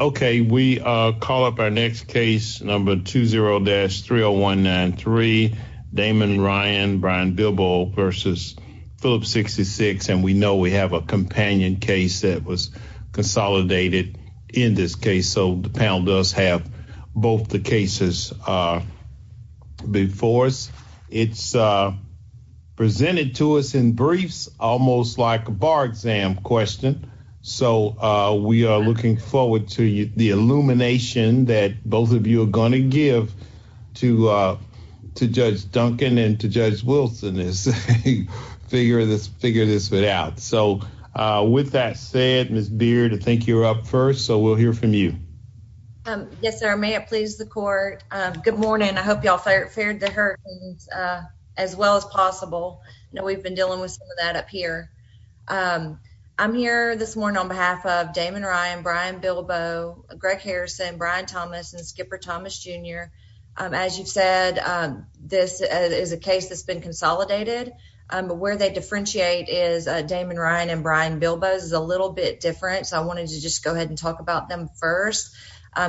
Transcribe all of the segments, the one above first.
Okay, we call up our next case, number 20-30193, Damon Ryan, Brian Bilbo versus Phillips 66, and we know we have a companion case that was consolidated in this case, so the panel does have both the cases before us. It's presented to us in briefs, almost like a bar exam question, so we are looking forward to the illumination that both of you are going to give to Judge Duncan and to Judge Wilson as they figure this figure this out. So with that said, Ms. Beard, I think you're up first, so we'll hear from you. Yes, sir. May it please the court. Good morning. I hope y'all fared the hurt as well as possible. I know we've been dealing with some of here. I'm here this morning on behalf of Damon Ryan, Brian Bilbo, Greg Harrison, Brian Thomas, and Skipper Thomas Jr. As you've said, this is a case that's been consolidated, but where they differentiate is Damon Ryan and Brian Bilbo is a little bit different, so I wanted to just go ahead and talk about them first.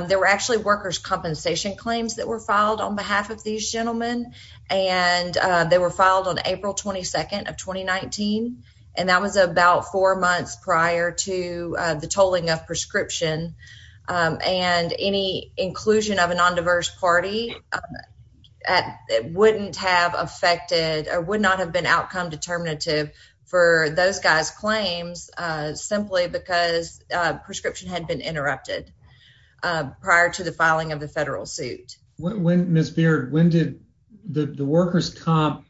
There were actually workers' compensation claims that were filed on behalf of these gentlemen, and they were filed on April 22nd of 2019, and that was about four months prior to the tolling of prescription, and any inclusion of a non-diverse party wouldn't have affected or would not have been outcome determinative for those guys' claims simply because prescription had been interrupted prior to the filing of the federal suit. Ms. Beard, when did the workers' comp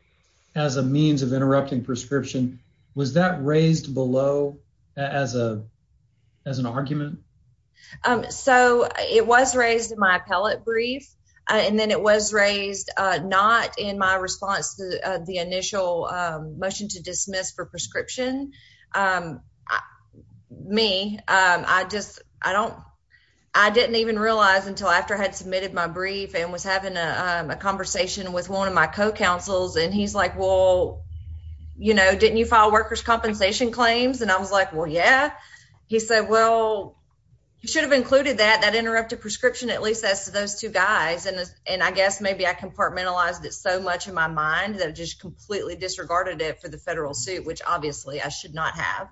as a means of interrupting prescription, was that raised below as an argument? So it was raised in my appellate brief, and then it was raised not in my response to the initial motion to dismiss for prescription. I didn't even realize until after I had submitted my brief and was having a conversation with one of my co-counsels, and he's like, well, you know, didn't you file workers' compensation claims? And I was like, well, yeah. He said, well, you should have included that, that interrupted prescription, at least as to those two guys, and I guess maybe I compartmentalized it so much in my mind that completely disregarded it for the federal suit, which obviously I should not have.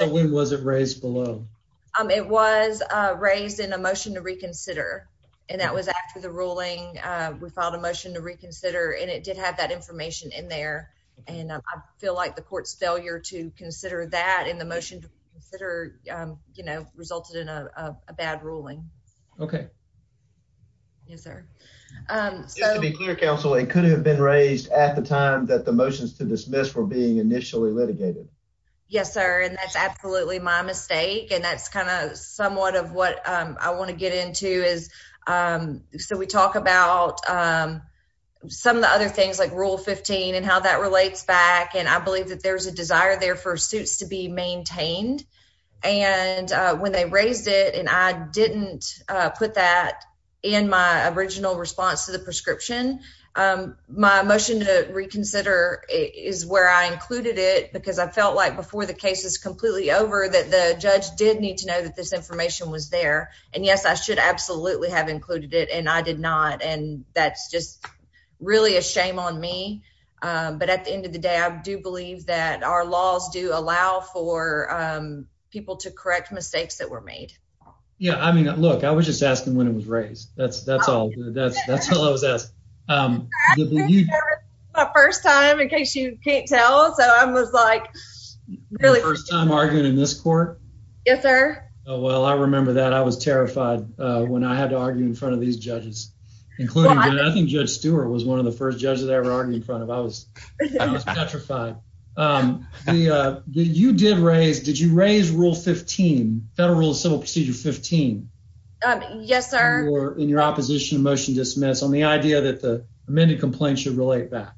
So when was it raised below? It was raised in a motion to reconsider, and that was after the ruling. We filed a motion to reconsider, and it did have that information in there, and I feel like the court's failure to consider that in the motion to consider, you know, resulted in a bad ruling. Okay. Yes, sir. Just to be clear, counsel, it could have been raised at the time that the motions to dismiss were being initially litigated. Yes, sir, and that's absolutely my mistake, and that's kind of somewhat of what I want to get into is, so we talk about some of the other things like Rule 15 and how that relates back, and I believe that there's a desire there for suits to be maintained, and when they raised it, and I My motion to reconsider is where I included it because I felt like before the case is completely over that the judge did need to know that this information was there, and yes, I should absolutely have included it, and I did not, and that's just really a shame on me, but at the end of the day, I do believe that our laws do allow for people to correct mistakes that were made. Yeah, I mean, look, I was just asking when it was raised. That's all. That's all I was asking. My first time, in case you can't tell, so I was like, really. First time arguing in this court? Yes, sir. Well, I remember that. I was terrified when I had to argue in front of these judges, including, I think Judge Stewart was one of the first judges I ever argued in front of. I was petrified. The, you did raise, did you raise Rule 15, Federal Civil Procedure 15? Yes, sir. In your opposition to motion dismiss on the idea that the amended complaint should relate back.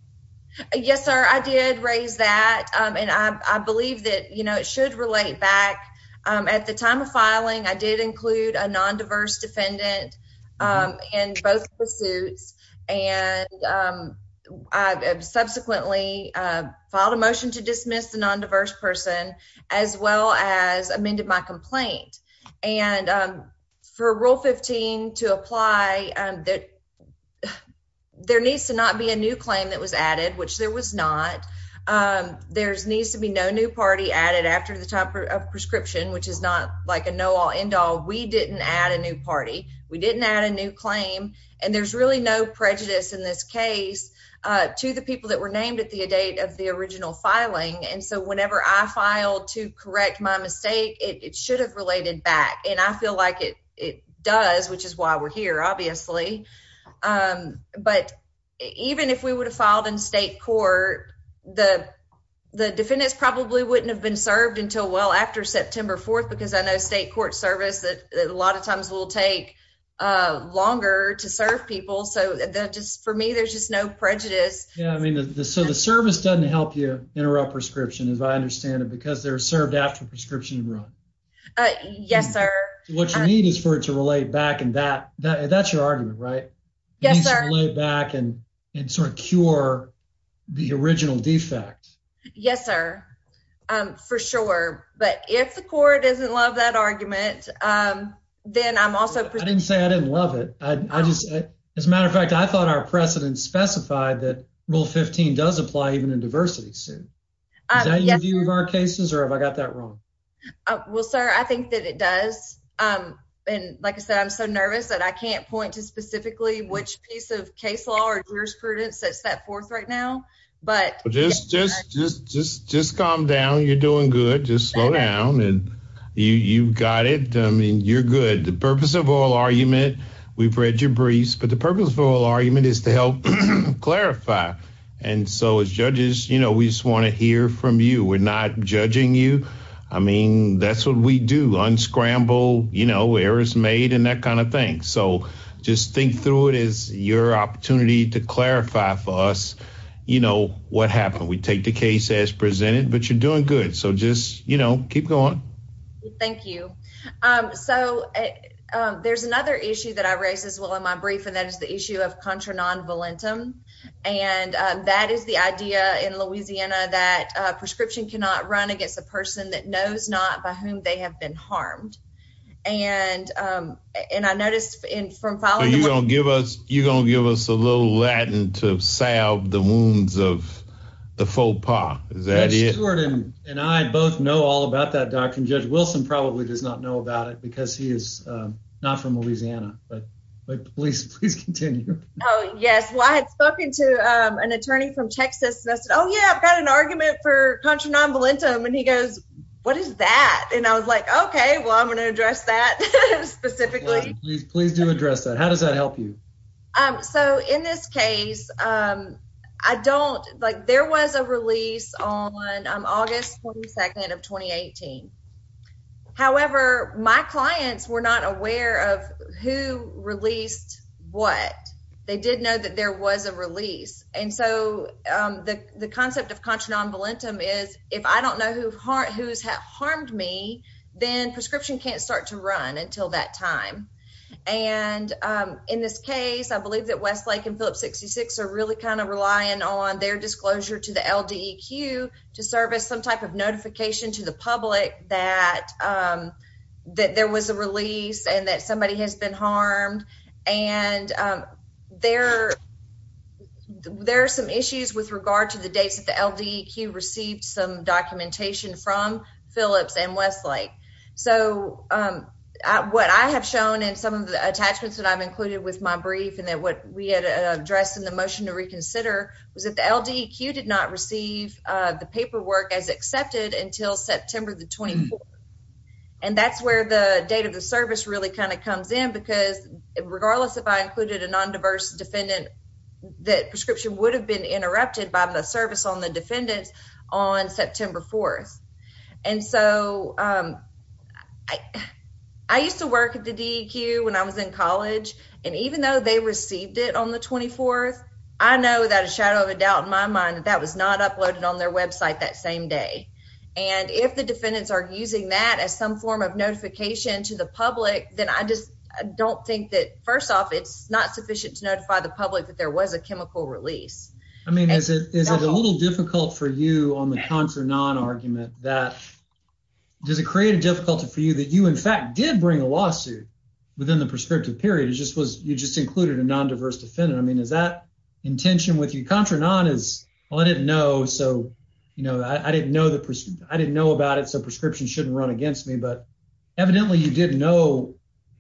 Yes, sir. I did raise that, and I believe that, you know, it should relate back. At the time of filing, I did include a non-diverse defendant in both pursuits, and I subsequently filed a motion to dismiss the non-diverse person, as well as amended my to apply. There needs to not be a new claim that was added, which there was not. There needs to be no new party added after the time of prescription, which is not like a know-all, end-all. We didn't add a new party. We didn't add a new claim, and there's really no prejudice in this case to the people that were named at the date of the original filing, and so whenever I obviously, but even if we would have filed in state court, the defendants probably wouldn't have been served until well after September 4th, because I know state court service that a lot of times will take longer to serve people, so that just for me, there's just no prejudice. Yeah, I mean, so the service doesn't help you interrupt prescription, as I understand it, because they're served after prescription run. Yes, sir. What you need is for it to relate back, that's your argument, right? Yes, sir. Relate back and sort of cure the original defect. Yes, sir, for sure, but if the court doesn't love that argument, then I'm also... I didn't say I didn't love it. As a matter of fact, I thought our precedent specified that Rule 15 does apply even in diversity suit. Is that your view of our cases, or have I got that wrong? Well, sir, I think that it does, and like I said, I'm so nervous that I can't point to specifically which piece of case law or jurisprudence sets that forth right now, but... Just calm down. You're doing good. Just slow down, and you've got it. I mean, you're good. The purpose of oral argument, we've read your briefs, but the purpose of oral argument is to help clarify, and so as judges, we just want to hear from you. We're not judging you. I mean, that's what we do, unscramble errors made and that kind of thing, so just think through it as your opportunity to clarify for us what happened. We take the case as presented, but you're doing good, so just keep going. Thank you. So there's another issue that I raised as well in my brief, and that is the issue of that prescription cannot run against a person that knows not by whom they have been harmed, and I noticed from following... So you're going to give us a little Latin to salve the wounds of the faux pas. Is that it? Judge Stewart and I both know all about that, Dr., and Judge Wilson probably does not know about it because he is not from Louisiana, but please continue. Oh, yes. Well, I had spoken to an attorney from Texas, and I said, I've got an argument for contra non volentum, and he goes, what is that? And I was like, okay, well, I'm going to address that specifically. Please do address that. How does that help you? So in this case, I don't... There was a release on August 22nd of 2018. However, my clients were not aware of who released what. They did know that there was a release, and so the concept of contra non volentum is if I don't know who's harmed me, then prescription can't start to run until that time, and in this case, I believe that Westlake and Phillips 66 are really kind of relying on their disclosure to the LDEQ to service some type of notification to the public that there was a release and that somebody has been harmed, and there are some issues with regard to the dates that the LDEQ received some documentation from Phillips and Westlake. So what I have shown in some of the attachments that I've included with my brief and that what we had addressed in the motion to reconsider was that the LDEQ did not receive the paperwork as accepted until September the 24th, and that's where the date of the service really kind of comes in because regardless if I included a non-diverse defendant, that prescription would have been interrupted by the service on the defendants on September 4th, and so I used to work at the DEQ when I was in college, and even though they received it on the 24th, I know without a shadow of a doubt in my mind that that was not uploaded on their website that same day, and if the defendants are using that as some form of notification to the public, then I just don't think that first off it's not sufficient to notify the public that there was a chemical release. I mean is it is it a little difficult for you on the contra non argument that does it create a difficulty for you that you in fact did bring a lawsuit within the prescriptive period it just was you just included a non-diverse defendant I mean is that intention with you well I didn't know so you know I didn't know the person I didn't know about it so prescription shouldn't run against me but evidently you didn't know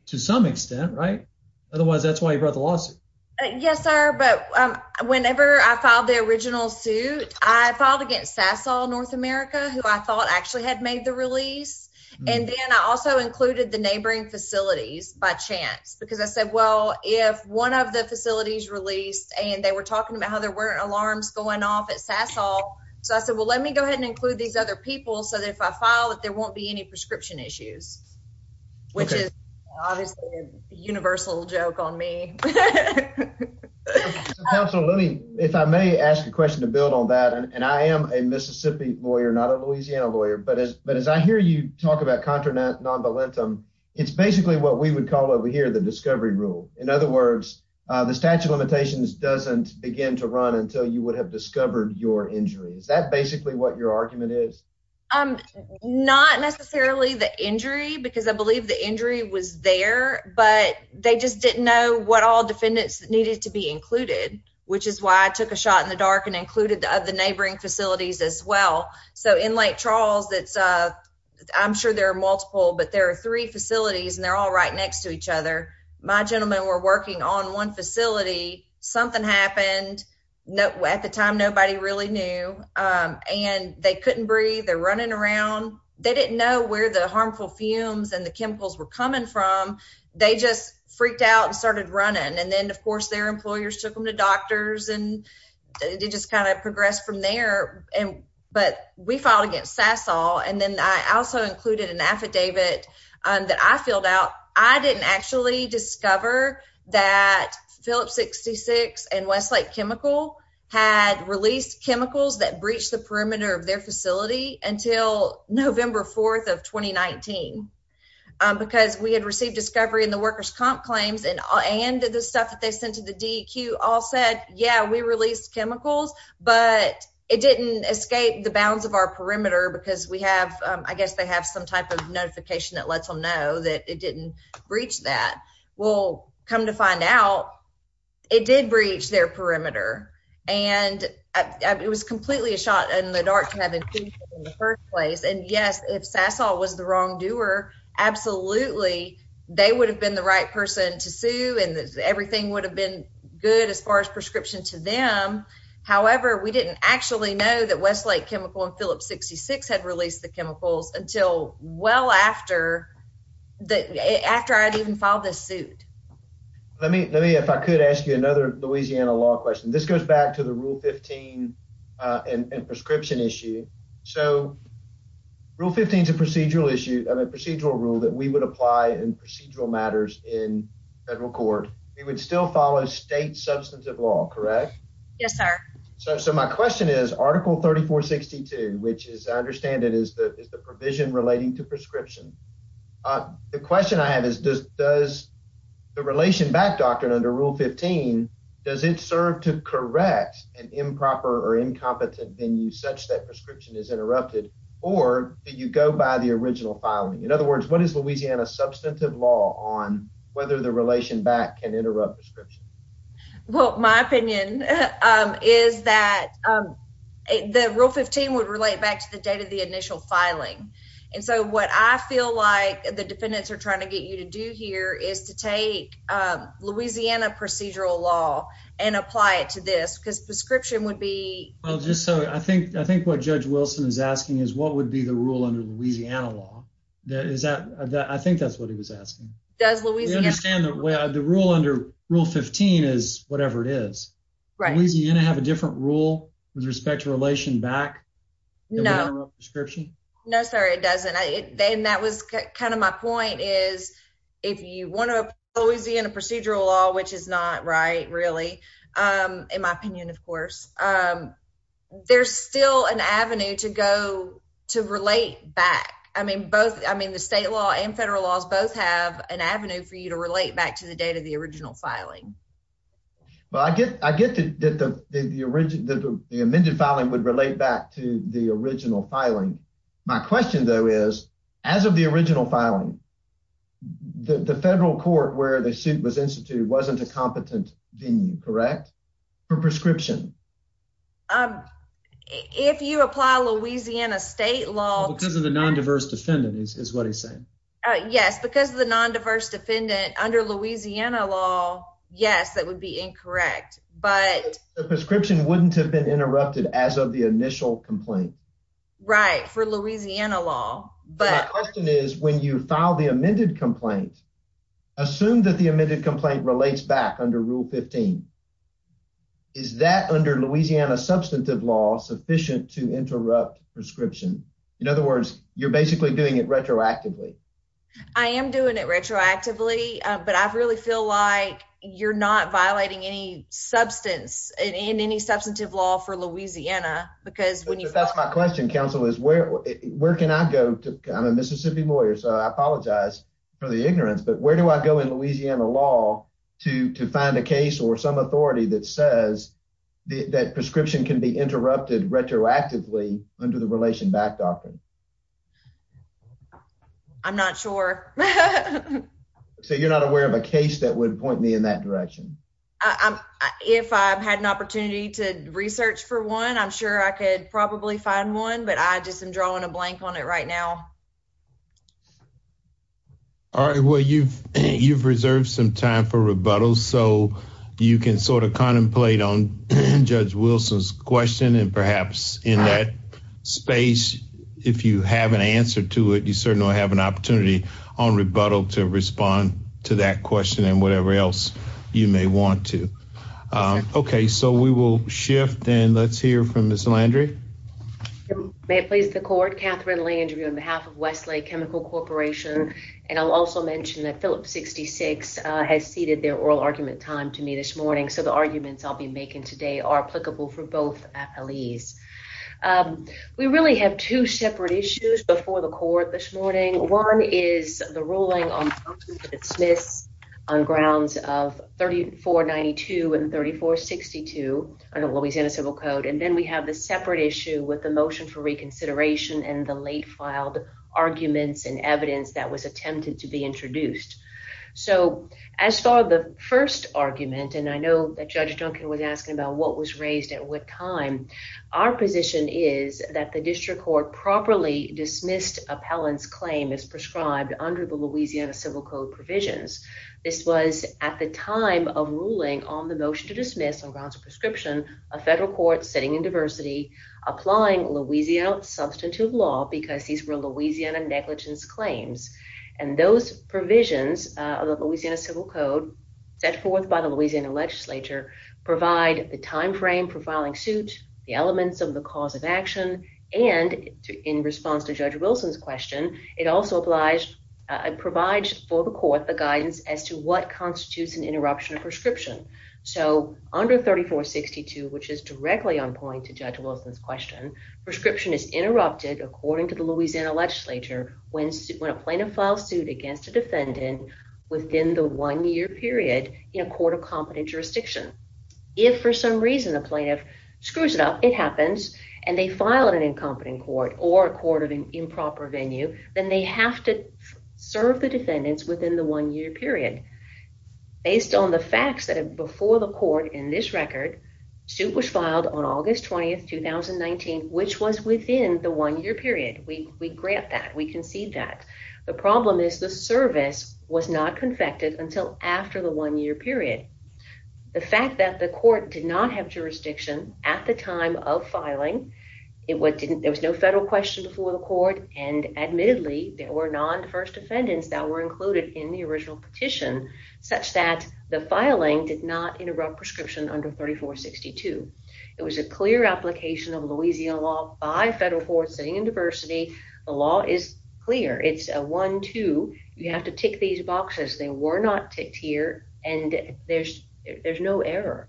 to some extent right otherwise that's why you brought the lawsuit yes sir but um whenever I filed the original suit I filed against Sasol North America who I thought actually had made the release and then I also included the neighboring facilities by chance because I said well if one of the facilities released and they were talking about how there weren't alarms going off at Sasol so I said well let me go ahead and include these other people so that if I file that there won't be any prescription issues which is obviously a universal joke on me absolutely if I may ask a question to build on that and I am a Mississippi lawyer not a Louisiana lawyer but as but as I hear you talk about contra non-valentum it's basically what we would call over here the discovery rule in other words the statute of limitations doesn't begin to run until you would have discovered your injury is that basically what your argument is um not necessarily the injury because I believe the injury was there but they just didn't know what all defendants needed to be included which is why I took a shot in the dark and included of the neighboring facilities as well so in Lake Charles that's uh I'm sure there are multiple but there are three facilities and they're all right next to each other my gentlemen were working on one facility something happened no at the time nobody really knew um and they couldn't breathe they're running around they didn't know where the harmful fumes and the chemicals were coming from they just freaked out and started running and then of course their employers took them to doctors and they just kind of progressed from there and but we filed against Sasol and then I also included an Phillip 66 and Westlake chemical had released chemicals that breached the perimeter of their facility until November 4th of 2019 because we had received discovery in the workers comp claims and and the stuff that they sent to the DEQ all said yeah we released chemicals but it didn't escape the bounds of our perimeter because we have I guess they have some type of notification that that it didn't breach that we'll come to find out it did breach their perimeter and it was completely a shot in the dark to have in the first place and yes if Sasol was the wrongdoer absolutely they would have been the right person to sue and everything would have been good as far as prescription to them however we didn't actually know that Westlake chemical and Phillip 66 had released the chemicals until well after that after I'd even filed this suit let me let me if I could ask you another Louisiana law question this goes back to the rule 15 and prescription issue so rule 15 is a procedural issue of a procedural rule that we would apply in procedural matters in federal court we would still follow state substantive law correct yes sir so so my question is article 3462 which is I understand it is the is the provision relating to prescription uh the question I have is does does the relation back doctrine under rule 15 does it serve to correct an improper or incompetent venue such that prescription is interrupted or do you go by the original filing in other words what is Louisiana substantive law on whether the relation back can interrupt prescription well my opinion is that the rule 15 would relate back to the date of the initial filing and so what I feel like the defendants are trying to get you to do here is to take Louisiana procedural law and apply it to this because prescription would be well just so I think I think what Judge Wilson is asking is what would be the rule under Louisiana law that is that that I think that's what he was asking does Louisiana understand that well the rule under rule 15 is whatever it is right Louisiana have a different rule with respect to relation back no prescription no sorry it doesn't I and that was kind of my point is if you want to always be in a procedural law which is not right really um in my opinion of course um there's still an avenue to go to relate back I mean both I mean the state law and federal laws both have an avenue for you to relate back to the date of the original filing well I get I get that the the origin the amended filing would relate back to the original filing my question though is as of the original filing the the federal court where the suit was instituted wasn't a competent venue correct for prescription um if you apply Louisiana state law because of the non-diverse defendant is what he's saying yes because the non-diverse defendant under Louisiana law yes that would be incorrect but the prescription wouldn't have been interrupted as of the initial complaint right for Louisiana law but my question is when you file the amended complaint assume that the amended complaint relates back under rule 15 is that under Louisiana substantive law sufficient to interrupt prescription in other words you're basically doing it retroactively I am doing it retroactively but I really feel like you're not violating any substance in any substantive law for Louisiana because when you that's my question counsel is where can I go to I'm a Mississippi lawyer so I apologize for the ignorance but where do I go in Louisiana law to to find a case or some authority that says that prescription can be interrupted retroactively under the relation back doctrine I'm not sure so you're not aware of a case that would point me in that direction I'm if I've had an opportunity to research for one I'm sure I could probably find one but I just am drawing a blank on it right now all right well you've you've reserved some time for rebuttal so you can sort of contemplate on Judge Wilson's question and perhaps in that space if you have an answer to it you certainly have an opportunity on rebuttal to respond to that question and whatever else you may want to okay so we will shift and let's hear from Ms. Landry may it please the court Catherine Landry on behalf of Westlake Chemical Corporation and I'll also mention that Phillips 66 has ceded their oral argument time to me this morning so the arguments I'll be making today are applicable for both appellees we really have two separate issues before the court this morning one is the ruling on dismiss on grounds of 3492 and 3462 under Louisiana civil code and then we have the separate issue with the motion for reconsideration and the late filed arguments and evidence that was attempted to be introduced so as far the first argument and I know that Judge Duncan was asking about what was raised at what time our position is that the district court properly dismissed appellant's claim is prescribed under the Louisiana civil code provisions this was at the time of ruling on the motion to dismiss on grounds of prescription a federal court sitting in diversity applying Louisiana substantive law because these were Louisiana negligence claims and those provisions of the Louisiana civil code set forth by the Louisiana legislature provide the time frame for filing suit the elements of the cause of action and in response to Judge Wilson's question it also obliged provides for the court the guidance as to what constitutes an interruption of prescription so under 3462 which is directly on point to Judge Wilson's question prescription is interrupted according to the Louisiana legislature when when a plaintiff files suit against a defendant within the one-year period in a court of competent jurisdiction if for some reason the plaintiff screws it up it happens and they file an incompetent court or a court of improper venue then they have to serve the defendants within the one-year period based on the facts that before the court in this record suit was filed on August 20th 2019 which was within the one-year period we grant that we concede that the problem is the service was not confected until after the one-year period the fact that the court did not have jurisdiction at the time of filing it what didn't there was no federal question before the court and admittedly there were non-first defendants that were included in the original petition such that the filing did not interrupt prescription under 3462 it was a clear application of Louisiana law by federal courts sitting in diversity the law is clear it's a one two you have to tick these boxes they were not ticked here and there's there's no error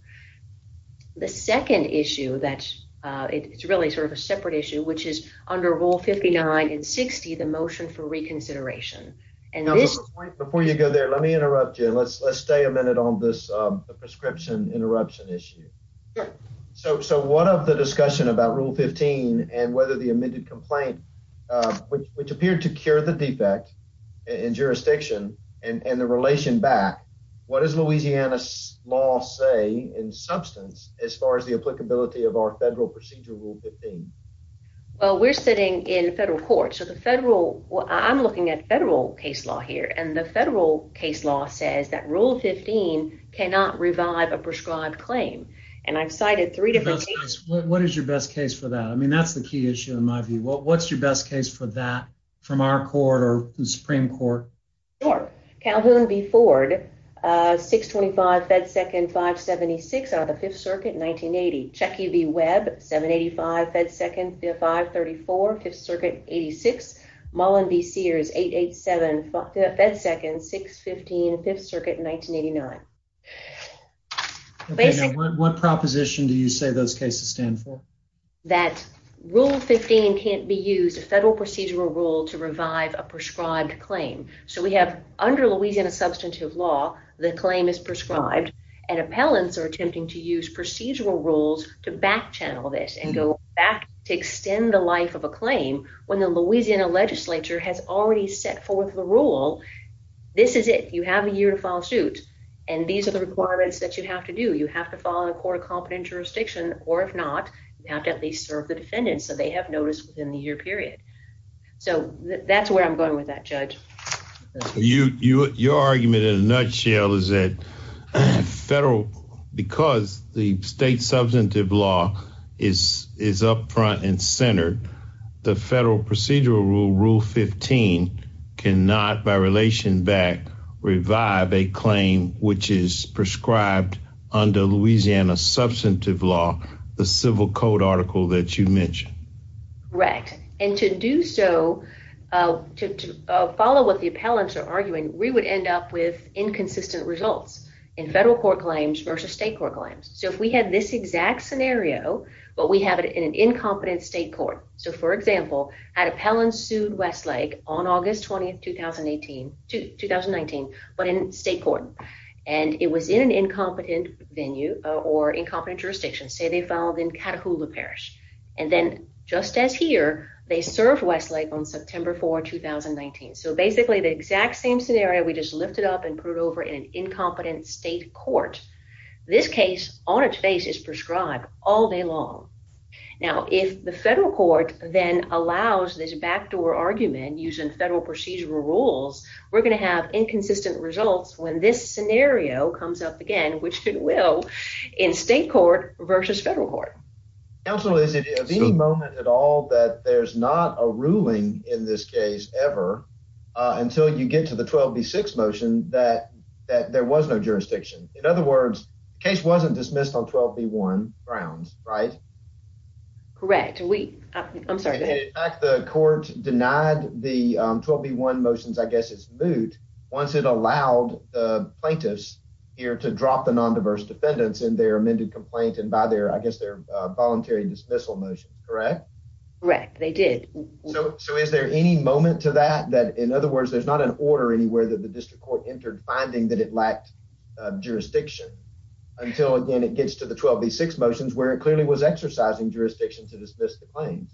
the second issue that's uh it's really sort of a separate issue which is under rule 59 and 60 the motion for reconsideration and this before you go there let me interrupt you let's let's stay a minute on this um the prescription interruption issue so so what of the discussion about rule 15 and whether the amended complaint uh which appeared to cure the defect in jurisdiction and and the relation back what does Louisiana's law say in substance as far as the applicability of our federal procedure rule 15? Well we're sitting in federal court so the federal I'm looking at federal case law here and the federal case law says that rule 15 cannot revive a prescribed claim and I've cited three different cases. What is your best case for that I mean that's the key issue in my view what's your best case for that from our court or the supreme court? Sure Calhoun v. Ford uh 625 fed second 576 out of the fifth circuit 1980. Chucky v. Webb 785 fed second 534 fifth circuit 86. Mullen v. Sears 887 fed second 615 fifth circuit 1989. What proposition do you say those cases stand for? That rule 15 can't be used a federal procedural rule to revive a prescribed claim so we have under Louisiana substantive law the claim is prescribed and appellants are attempting to use procedural rules to back channel this and go back to extend the life of a claim when the Louisiana legislature has already set forth the rule this is it you have a year to file suit and these are the requirements that you have to do you have to follow the court of competent jurisdiction or if not you have to at least serve the defendant so they have notice within the year period so that's where I'm going with that judge. So you your argument in a nutshell is that federal because the state substantive law is is up front and centered the federal procedural rule rule 15 cannot by relation back revive a claim which is prescribed under Louisiana substantive law the civil code article that you mentioned. Correct and to do so uh to to follow what the appellants are arguing we would end up with inconsistent results in federal court claims versus state court claims so if we had this exact scenario but we have it in an incompetent state so for example an appellant sued Westlake on August 20th 2018 to 2019 but in state court and it was in an incompetent venue or incompetent jurisdiction say they filed in Catahoula Parish and then just as here they served Westlake on September 4, 2019. So basically the exact same scenario we just lifted up and put it over in an incompetent state court this case on its face is long. Now if the federal court then allows this backdoor argument using federal procedural rules we're going to have inconsistent results when this scenario comes up again which it will in state court versus federal court. Counsel is it any moment at all that there's not a ruling in this case ever until you get to the 12b6 motion that that there was no jurisdiction. In other words the case wasn't dismissed on 12b1 grounds right? Correct we I'm sorry. The court denied the 12b1 motions I guess it's moot once it allowed the plaintiffs here to drop the non-diverse defendants in their amended complaint and by their I guess their voluntary dismissal motion correct? Correct they did. So so is there any moment to that that in other words there's not an order anywhere that the district court entered finding that it lacked jurisdiction until again it gets to the 12b6 motions where it clearly was exercising jurisdiction to dismiss the claims.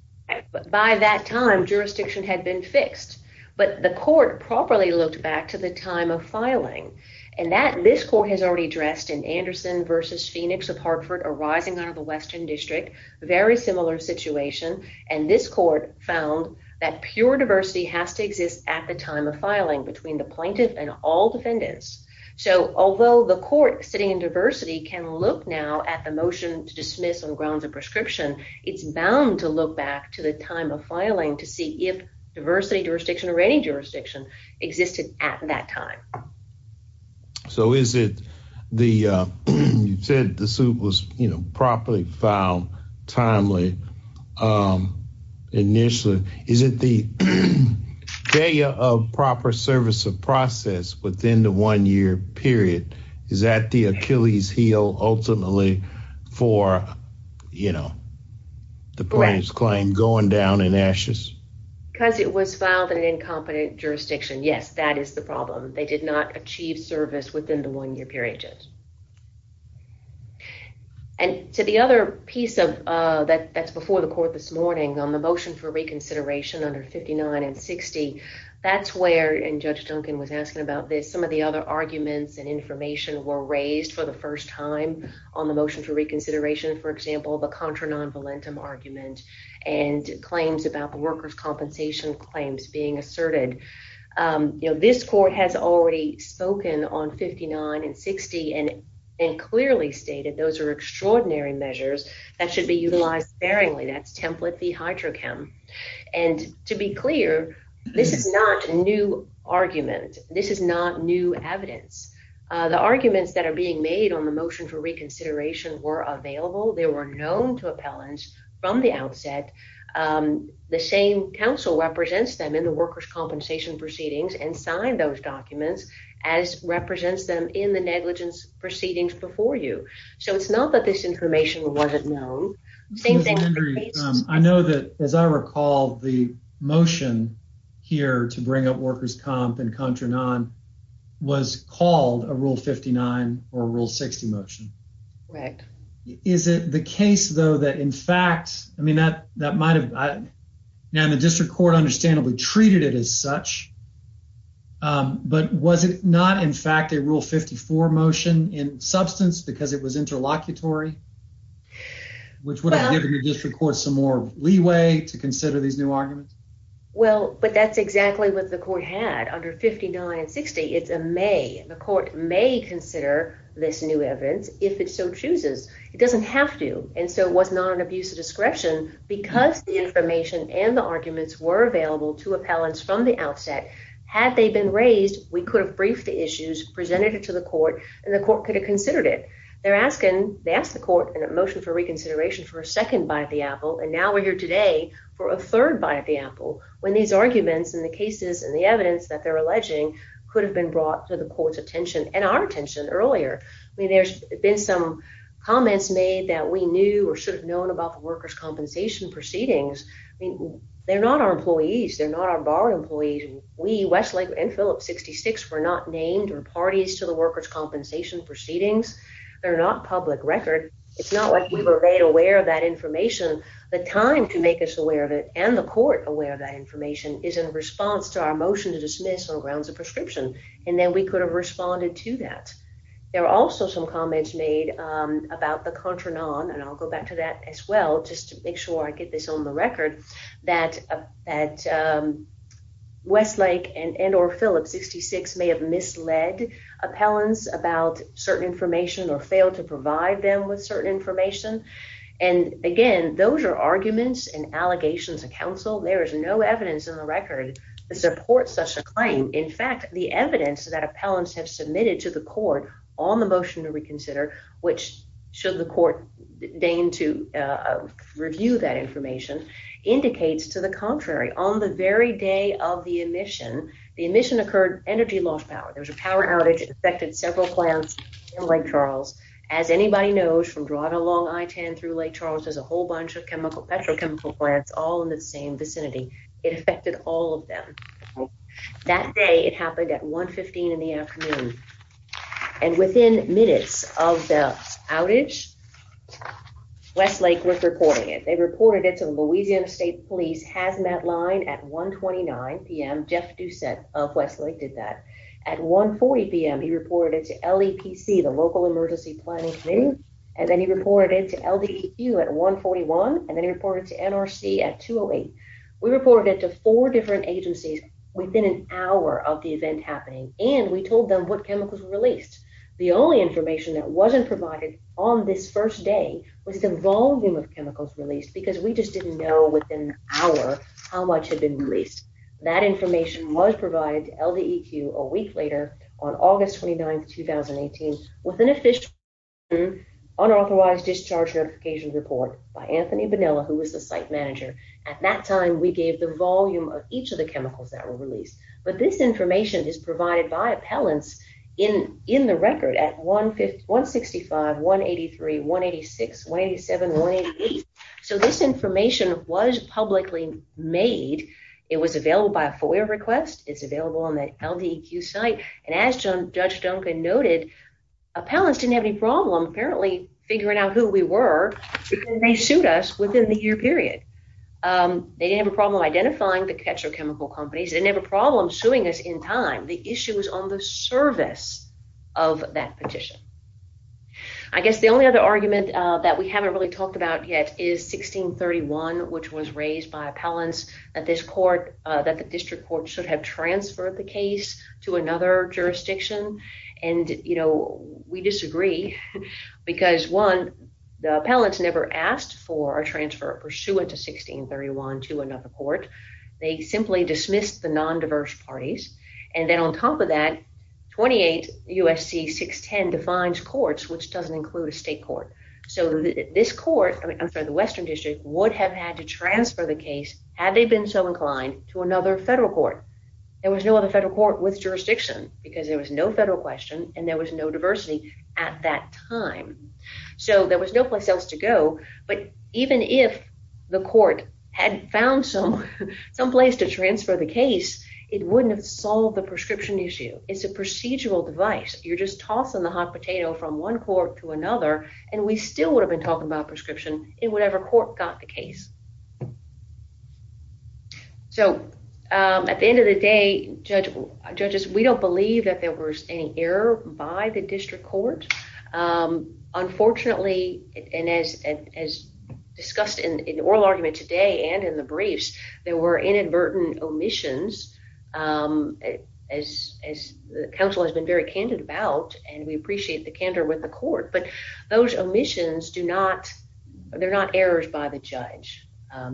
By that time jurisdiction had been fixed but the court properly looked back to the time of filing and that this court has already addressed in Anderson versus Phoenix of Hartford arising out of the western district very similar situation and this court found that pure diversity has to exist at the time of filing between the plaintiff and all defendants. So although the court sitting in diversity can look now at the motion to dismiss on grounds of prescription it's bound to look back to the time of filing to see if diversity jurisdiction or any jurisdiction existed at that time. So is it the you said the suit was you know properly filed timely initially is it the failure of proper service of process within the one year period is that the Achilles heel ultimately for you know the plaintiff's claim going down in ashes? Because it was filed in an incompetent jurisdiction yes that is the problem they did not achieve service within the one year period. And to the other piece of that that's before the court this morning on the motion for reconsideration under 59 and 60 that's where and Judge Duncan was asking about this some of the other arguments and information were raised for the first time on the motion for reconsideration for example the contra non-valentum argument and claims about the workers compensation claims being asserted. You know this court has already spoken on 59 and 60 and and clearly stated those are extraordinary measures that should be utilized sparingly that's template the hydrochem and to be clear this is not a new argument this is not new evidence. The arguments that are being made on the motion for reconsideration were available they were known to workers compensation proceedings and signed those documents as represents them in the negligence proceedings before you. So it's not that this information wasn't known. I know that as I recall the motion here to bring up workers comp and contra non was called a rule 59 or rule 60 right. Is it the case though that in fact I mean that that might have now the district court understandably treated it as such but was it not in fact a rule 54 motion in substance because it was interlocutory which would have given the district court some more leeway to consider these new arguments? Well but that's exactly what the court had under 59 and 60 it's a may the court may consider this new evidence if it so chooses. It doesn't have to and so it was not an abuse of discretion because the information and the arguments were available to appellants from the outset. Had they been raised we could have briefed the issues presented it to the court and the court could have considered it. They're asking they asked the court in a motion for reconsideration for a second bite the apple and now we're here today for a third bite the apple when these arguments and the cases and the evidence that they're alleging could have been brought to the court's attention and our attention earlier. I mean there's been some comments made that we knew or should have known about the workers' compensation proceedings. I mean they're not our employees they're not our bar employees. We Westlake and Phillips 66 were not named or parties to the workers' compensation proceedings. They're not public record. It's not like we were made aware of that information. The time to make us aware of it and the court aware of that then we could have responded to that. There are also some comments made about the contra non and I'll go back to that as well just to make sure I get this on the record that at Westlake and or Phillips 66 may have misled appellants about certain information or fail to provide them with certain information and again those are arguments and allegations of counsel. There is no evidence in the record to support such a claim. In fact the evidence that appellants have submitted to the court on the motion to reconsider which should the court deign to review that information indicates to the contrary. On the very day of the admission the admission occurred energy loss power. There was a power outage affected several plants in Lake Charles. As anybody knows from drawing along I-10 through Lake Charles there's a whole bunch of chemical petrochemical plants all in the same vicinity. It affected all of them. That day it happened at 1 15 in the afternoon and within minutes of the outage Westlake was reporting it. They reported it to Louisiana State Police Hazmat line at 1 29 p.m. Jeff Doucette of Westlake did that. At 1 40 p.m. he reported it to LEPC the local emergency planning committee and then he reported it to LDQ at 1 41 and then reported to NRC at 2 0 8. We reported it to four different agencies within an hour of the event happening and we told them what chemicals were released. The only information that wasn't provided on this first day was the volume of chemicals released because we just didn't know within an hour how much had been released. That information was provided to LDEQ a week later on August 29 2018 with an official unauthorized discharge notification report by Anthony Bonilla who was the site manager. At that time we gave the volume of each of the chemicals that were released but this information is provided by appellants in in the record at 1 65 183 186 187 188. So this information was publicly made. It was available by a FOIA request. It's available on LDEQ site and as Judge Duncan noted appellants didn't have any problem apparently figuring out who we were because they sued us within the year period. They didn't have a problem identifying the catcher chemical companies. They didn't have a problem suing us in time. The issue was on the service of that petition. I guess the only other argument that we haven't really talked about yet is 1631 which was raised by appellants that this court that the district court should have transferred the case to another jurisdiction and you know we disagree because one the appellants never asked for a transfer pursuant to 1631 to another court. They simply dismissed the non-diverse parties and then on top of that 28 USC 610 defines courts which doesn't include a state court. So this court I mean I'm sorry the western district would have had to transfer the case had they been so inclined to another federal court. There was no other federal court with jurisdiction because there was no federal question and there was no diversity at that time. So there was no place else to go but even if the court had found some someplace to transfer the case it wouldn't have solved the prescription issue. It's a procedural device. You're just tossing the court to another and we still would have been talking about prescription in whatever court got the case. So at the end of the day judges we don't believe that there was any error by the district court. Unfortunately and as as discussed in the oral argument today and in the briefs there were inadvertent omissions as as the council has been very candid about and we appreciate the candor with the court but those omissions do not they're not errors by the judge.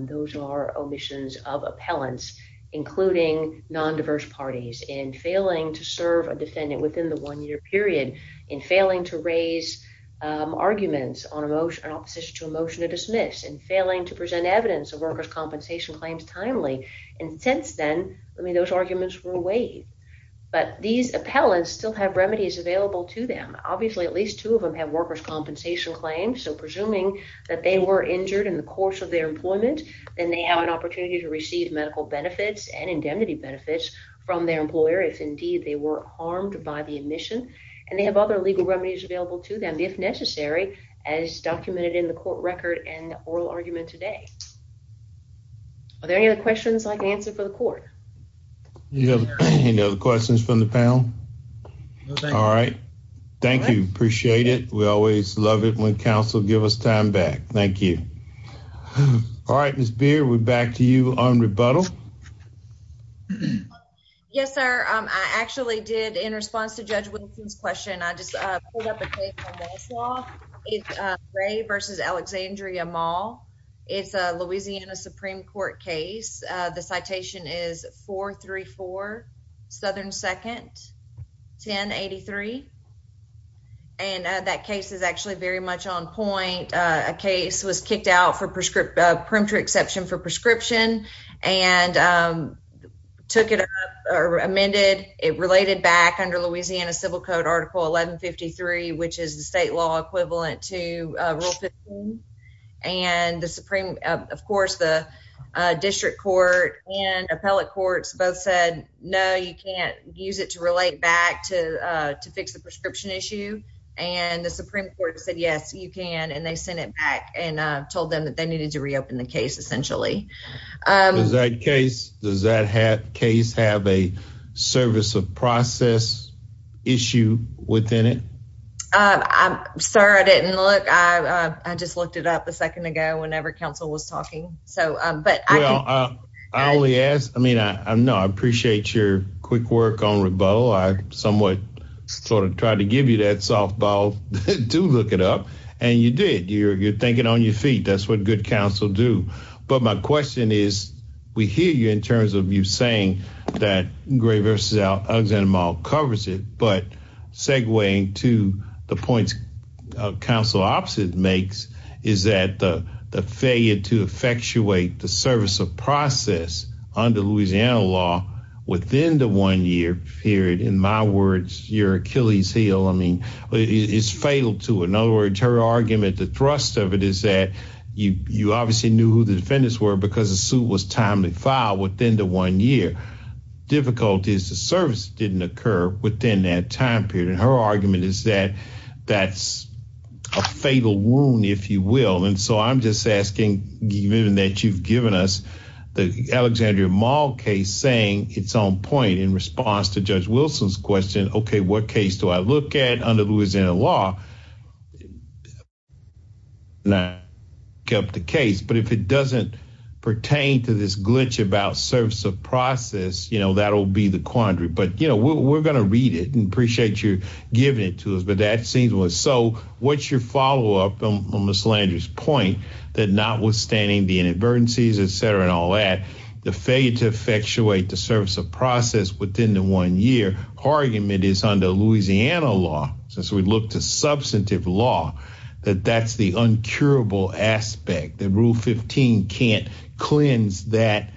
Those are omissions of appellants including non-diverse parties and failing to serve a defendant within the one-year period in failing to raise arguments on emotion and opposition to a motion to dismiss and failing to present evidence of workers compensation claims timely and since then I mean those arguments were but these appellants still have remedies available to them. Obviously at least two of them have workers compensation claims so presuming that they were injured in the course of their employment then they have an opportunity to receive medical benefits and indemnity benefits from their employer if indeed they were harmed by the admission and they have other legal remedies available to them if necessary as documented in the court record and oral argument today. Are there any other questions I can answer for the court? Any other questions from the panel? All right thank you appreciate it we always love it when council give us time back. Thank you. All right Miss Beard we're back to you on rebuttal. Yes sir I actually did in response to Judge Wilson's question I just pulled up a citation is 434 Southern 2nd 1083 and that case is actually very much on point. A case was kicked out for preemption exception for prescription and took it up or amended it related back under Louisiana civil code article 1153 which is the state law equivalent to rule 15 and the supreme of course the district court and appellate courts both said no you can't use it to relate back to to fix the prescription issue and the supreme court said yes you can and they sent it back and told them that they needed to reopen the case essentially. Does that case have a service of process issue within it? I'm sorry I didn't look I just looked it up a second ago whenever council was talking so but I only asked I mean I know I appreciate your quick work on rebuttal I somewhat sort of tried to give you that softball to look it up and you did you're you're thinking on your feet that's what good council do but my question is we hear you in terms of you saying that Gray versus Alexander Mall covers it but segueing to the points council opposite makes is that the the failure to effectuate the service of process under Louisiana law within the one year period in my words your Achilles heel I mean it's fatal to in other words her argument the thrust of it is that you you obviously knew who the defendants were because the suit was timely filed within the one year difficulties the service didn't occur within that time period and her argument is that that's a fatal wound if you will and so I'm just asking given that you've given us the Alexandria Mall case saying it's on point in response to Judge Wilson's question okay what case do I look at under Louisiana law not kept the case but if it doesn't pertain to this glitch about service of process you know that'll be the quandary but you know we're going to read it and appreciate you giving it to us but that seems well so what's your follow-up on Miss Landry's point that notwithstanding the inadvertencies etc and all that the failure to effectuate the service of process within the one year argument is under Louisiana law since we look to substantive law that that's the uncurable aspect that rule 15 can't cleanse that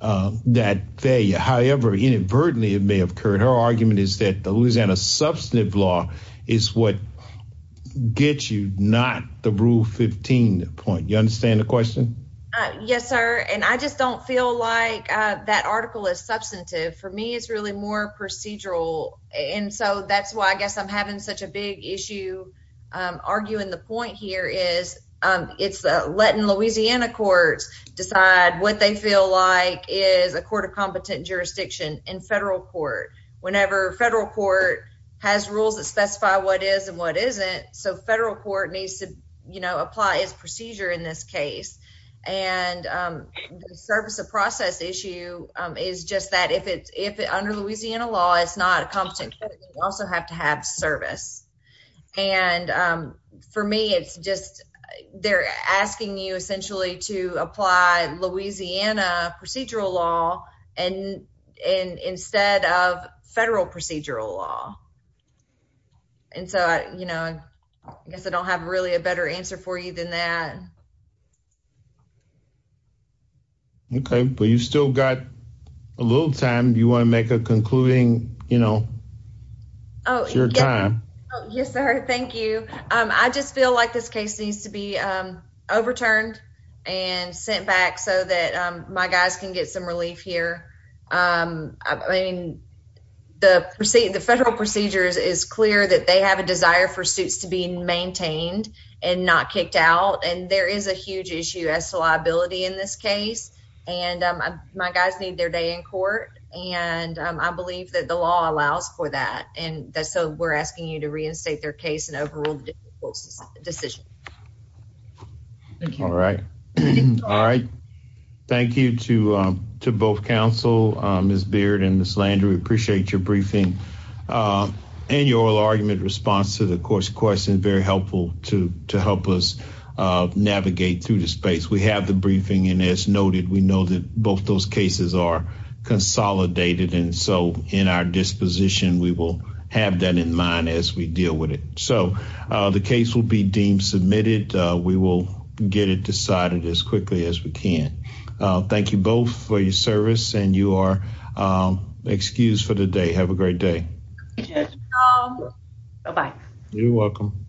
that failure however inadvertently it may have occurred her argument is that the Louisiana substantive law is what gets you not the rule 15 the point you understand the question yes sir and I just don't feel like that article is substantive for me it's really more procedural and so that's why I guess I'm having such a big issue arguing the it's letting Louisiana courts decide what they feel like is a court of competent jurisdiction in federal court whenever federal court has rules that specify what is and what isn't so federal court needs to you know apply its procedure in this case and the service of process issue is just that if it's if it under Louisiana law it's not a competent also have to have service and for me it's just they're asking you essentially to apply Louisiana procedural law and and instead of federal procedural law and so I you know I guess I don't have really a better answer for you than that okay but you still got a little time you want to make a concluding you know oh your time yes sir thank you um I just feel like this case needs to be um overturned and sent back so that um my guys can get some relief here um I mean the receipt the federal procedures is clear that they have a desire for suits to be maintained and not kicked out and there is a huge issue as to liability in this case and um my guys need their day in court and I believe that the law allows for that and that's so we're asking you to reinstate their case and overrule the decision all right all right thank you to um to both counsel um miss beard and miss landry appreciate your briefing uh and your argument response to the course question very helpful to to help us uh navigate through the space we have the briefing and as noted we know that both those cases are consolidated and so in our disposition we will have that in mind as we deal with it so uh the case will be deemed submitted uh we will get it decided as quickly as we can uh thank you both for your service and you are um excused for the day have a great day um bye you're welcome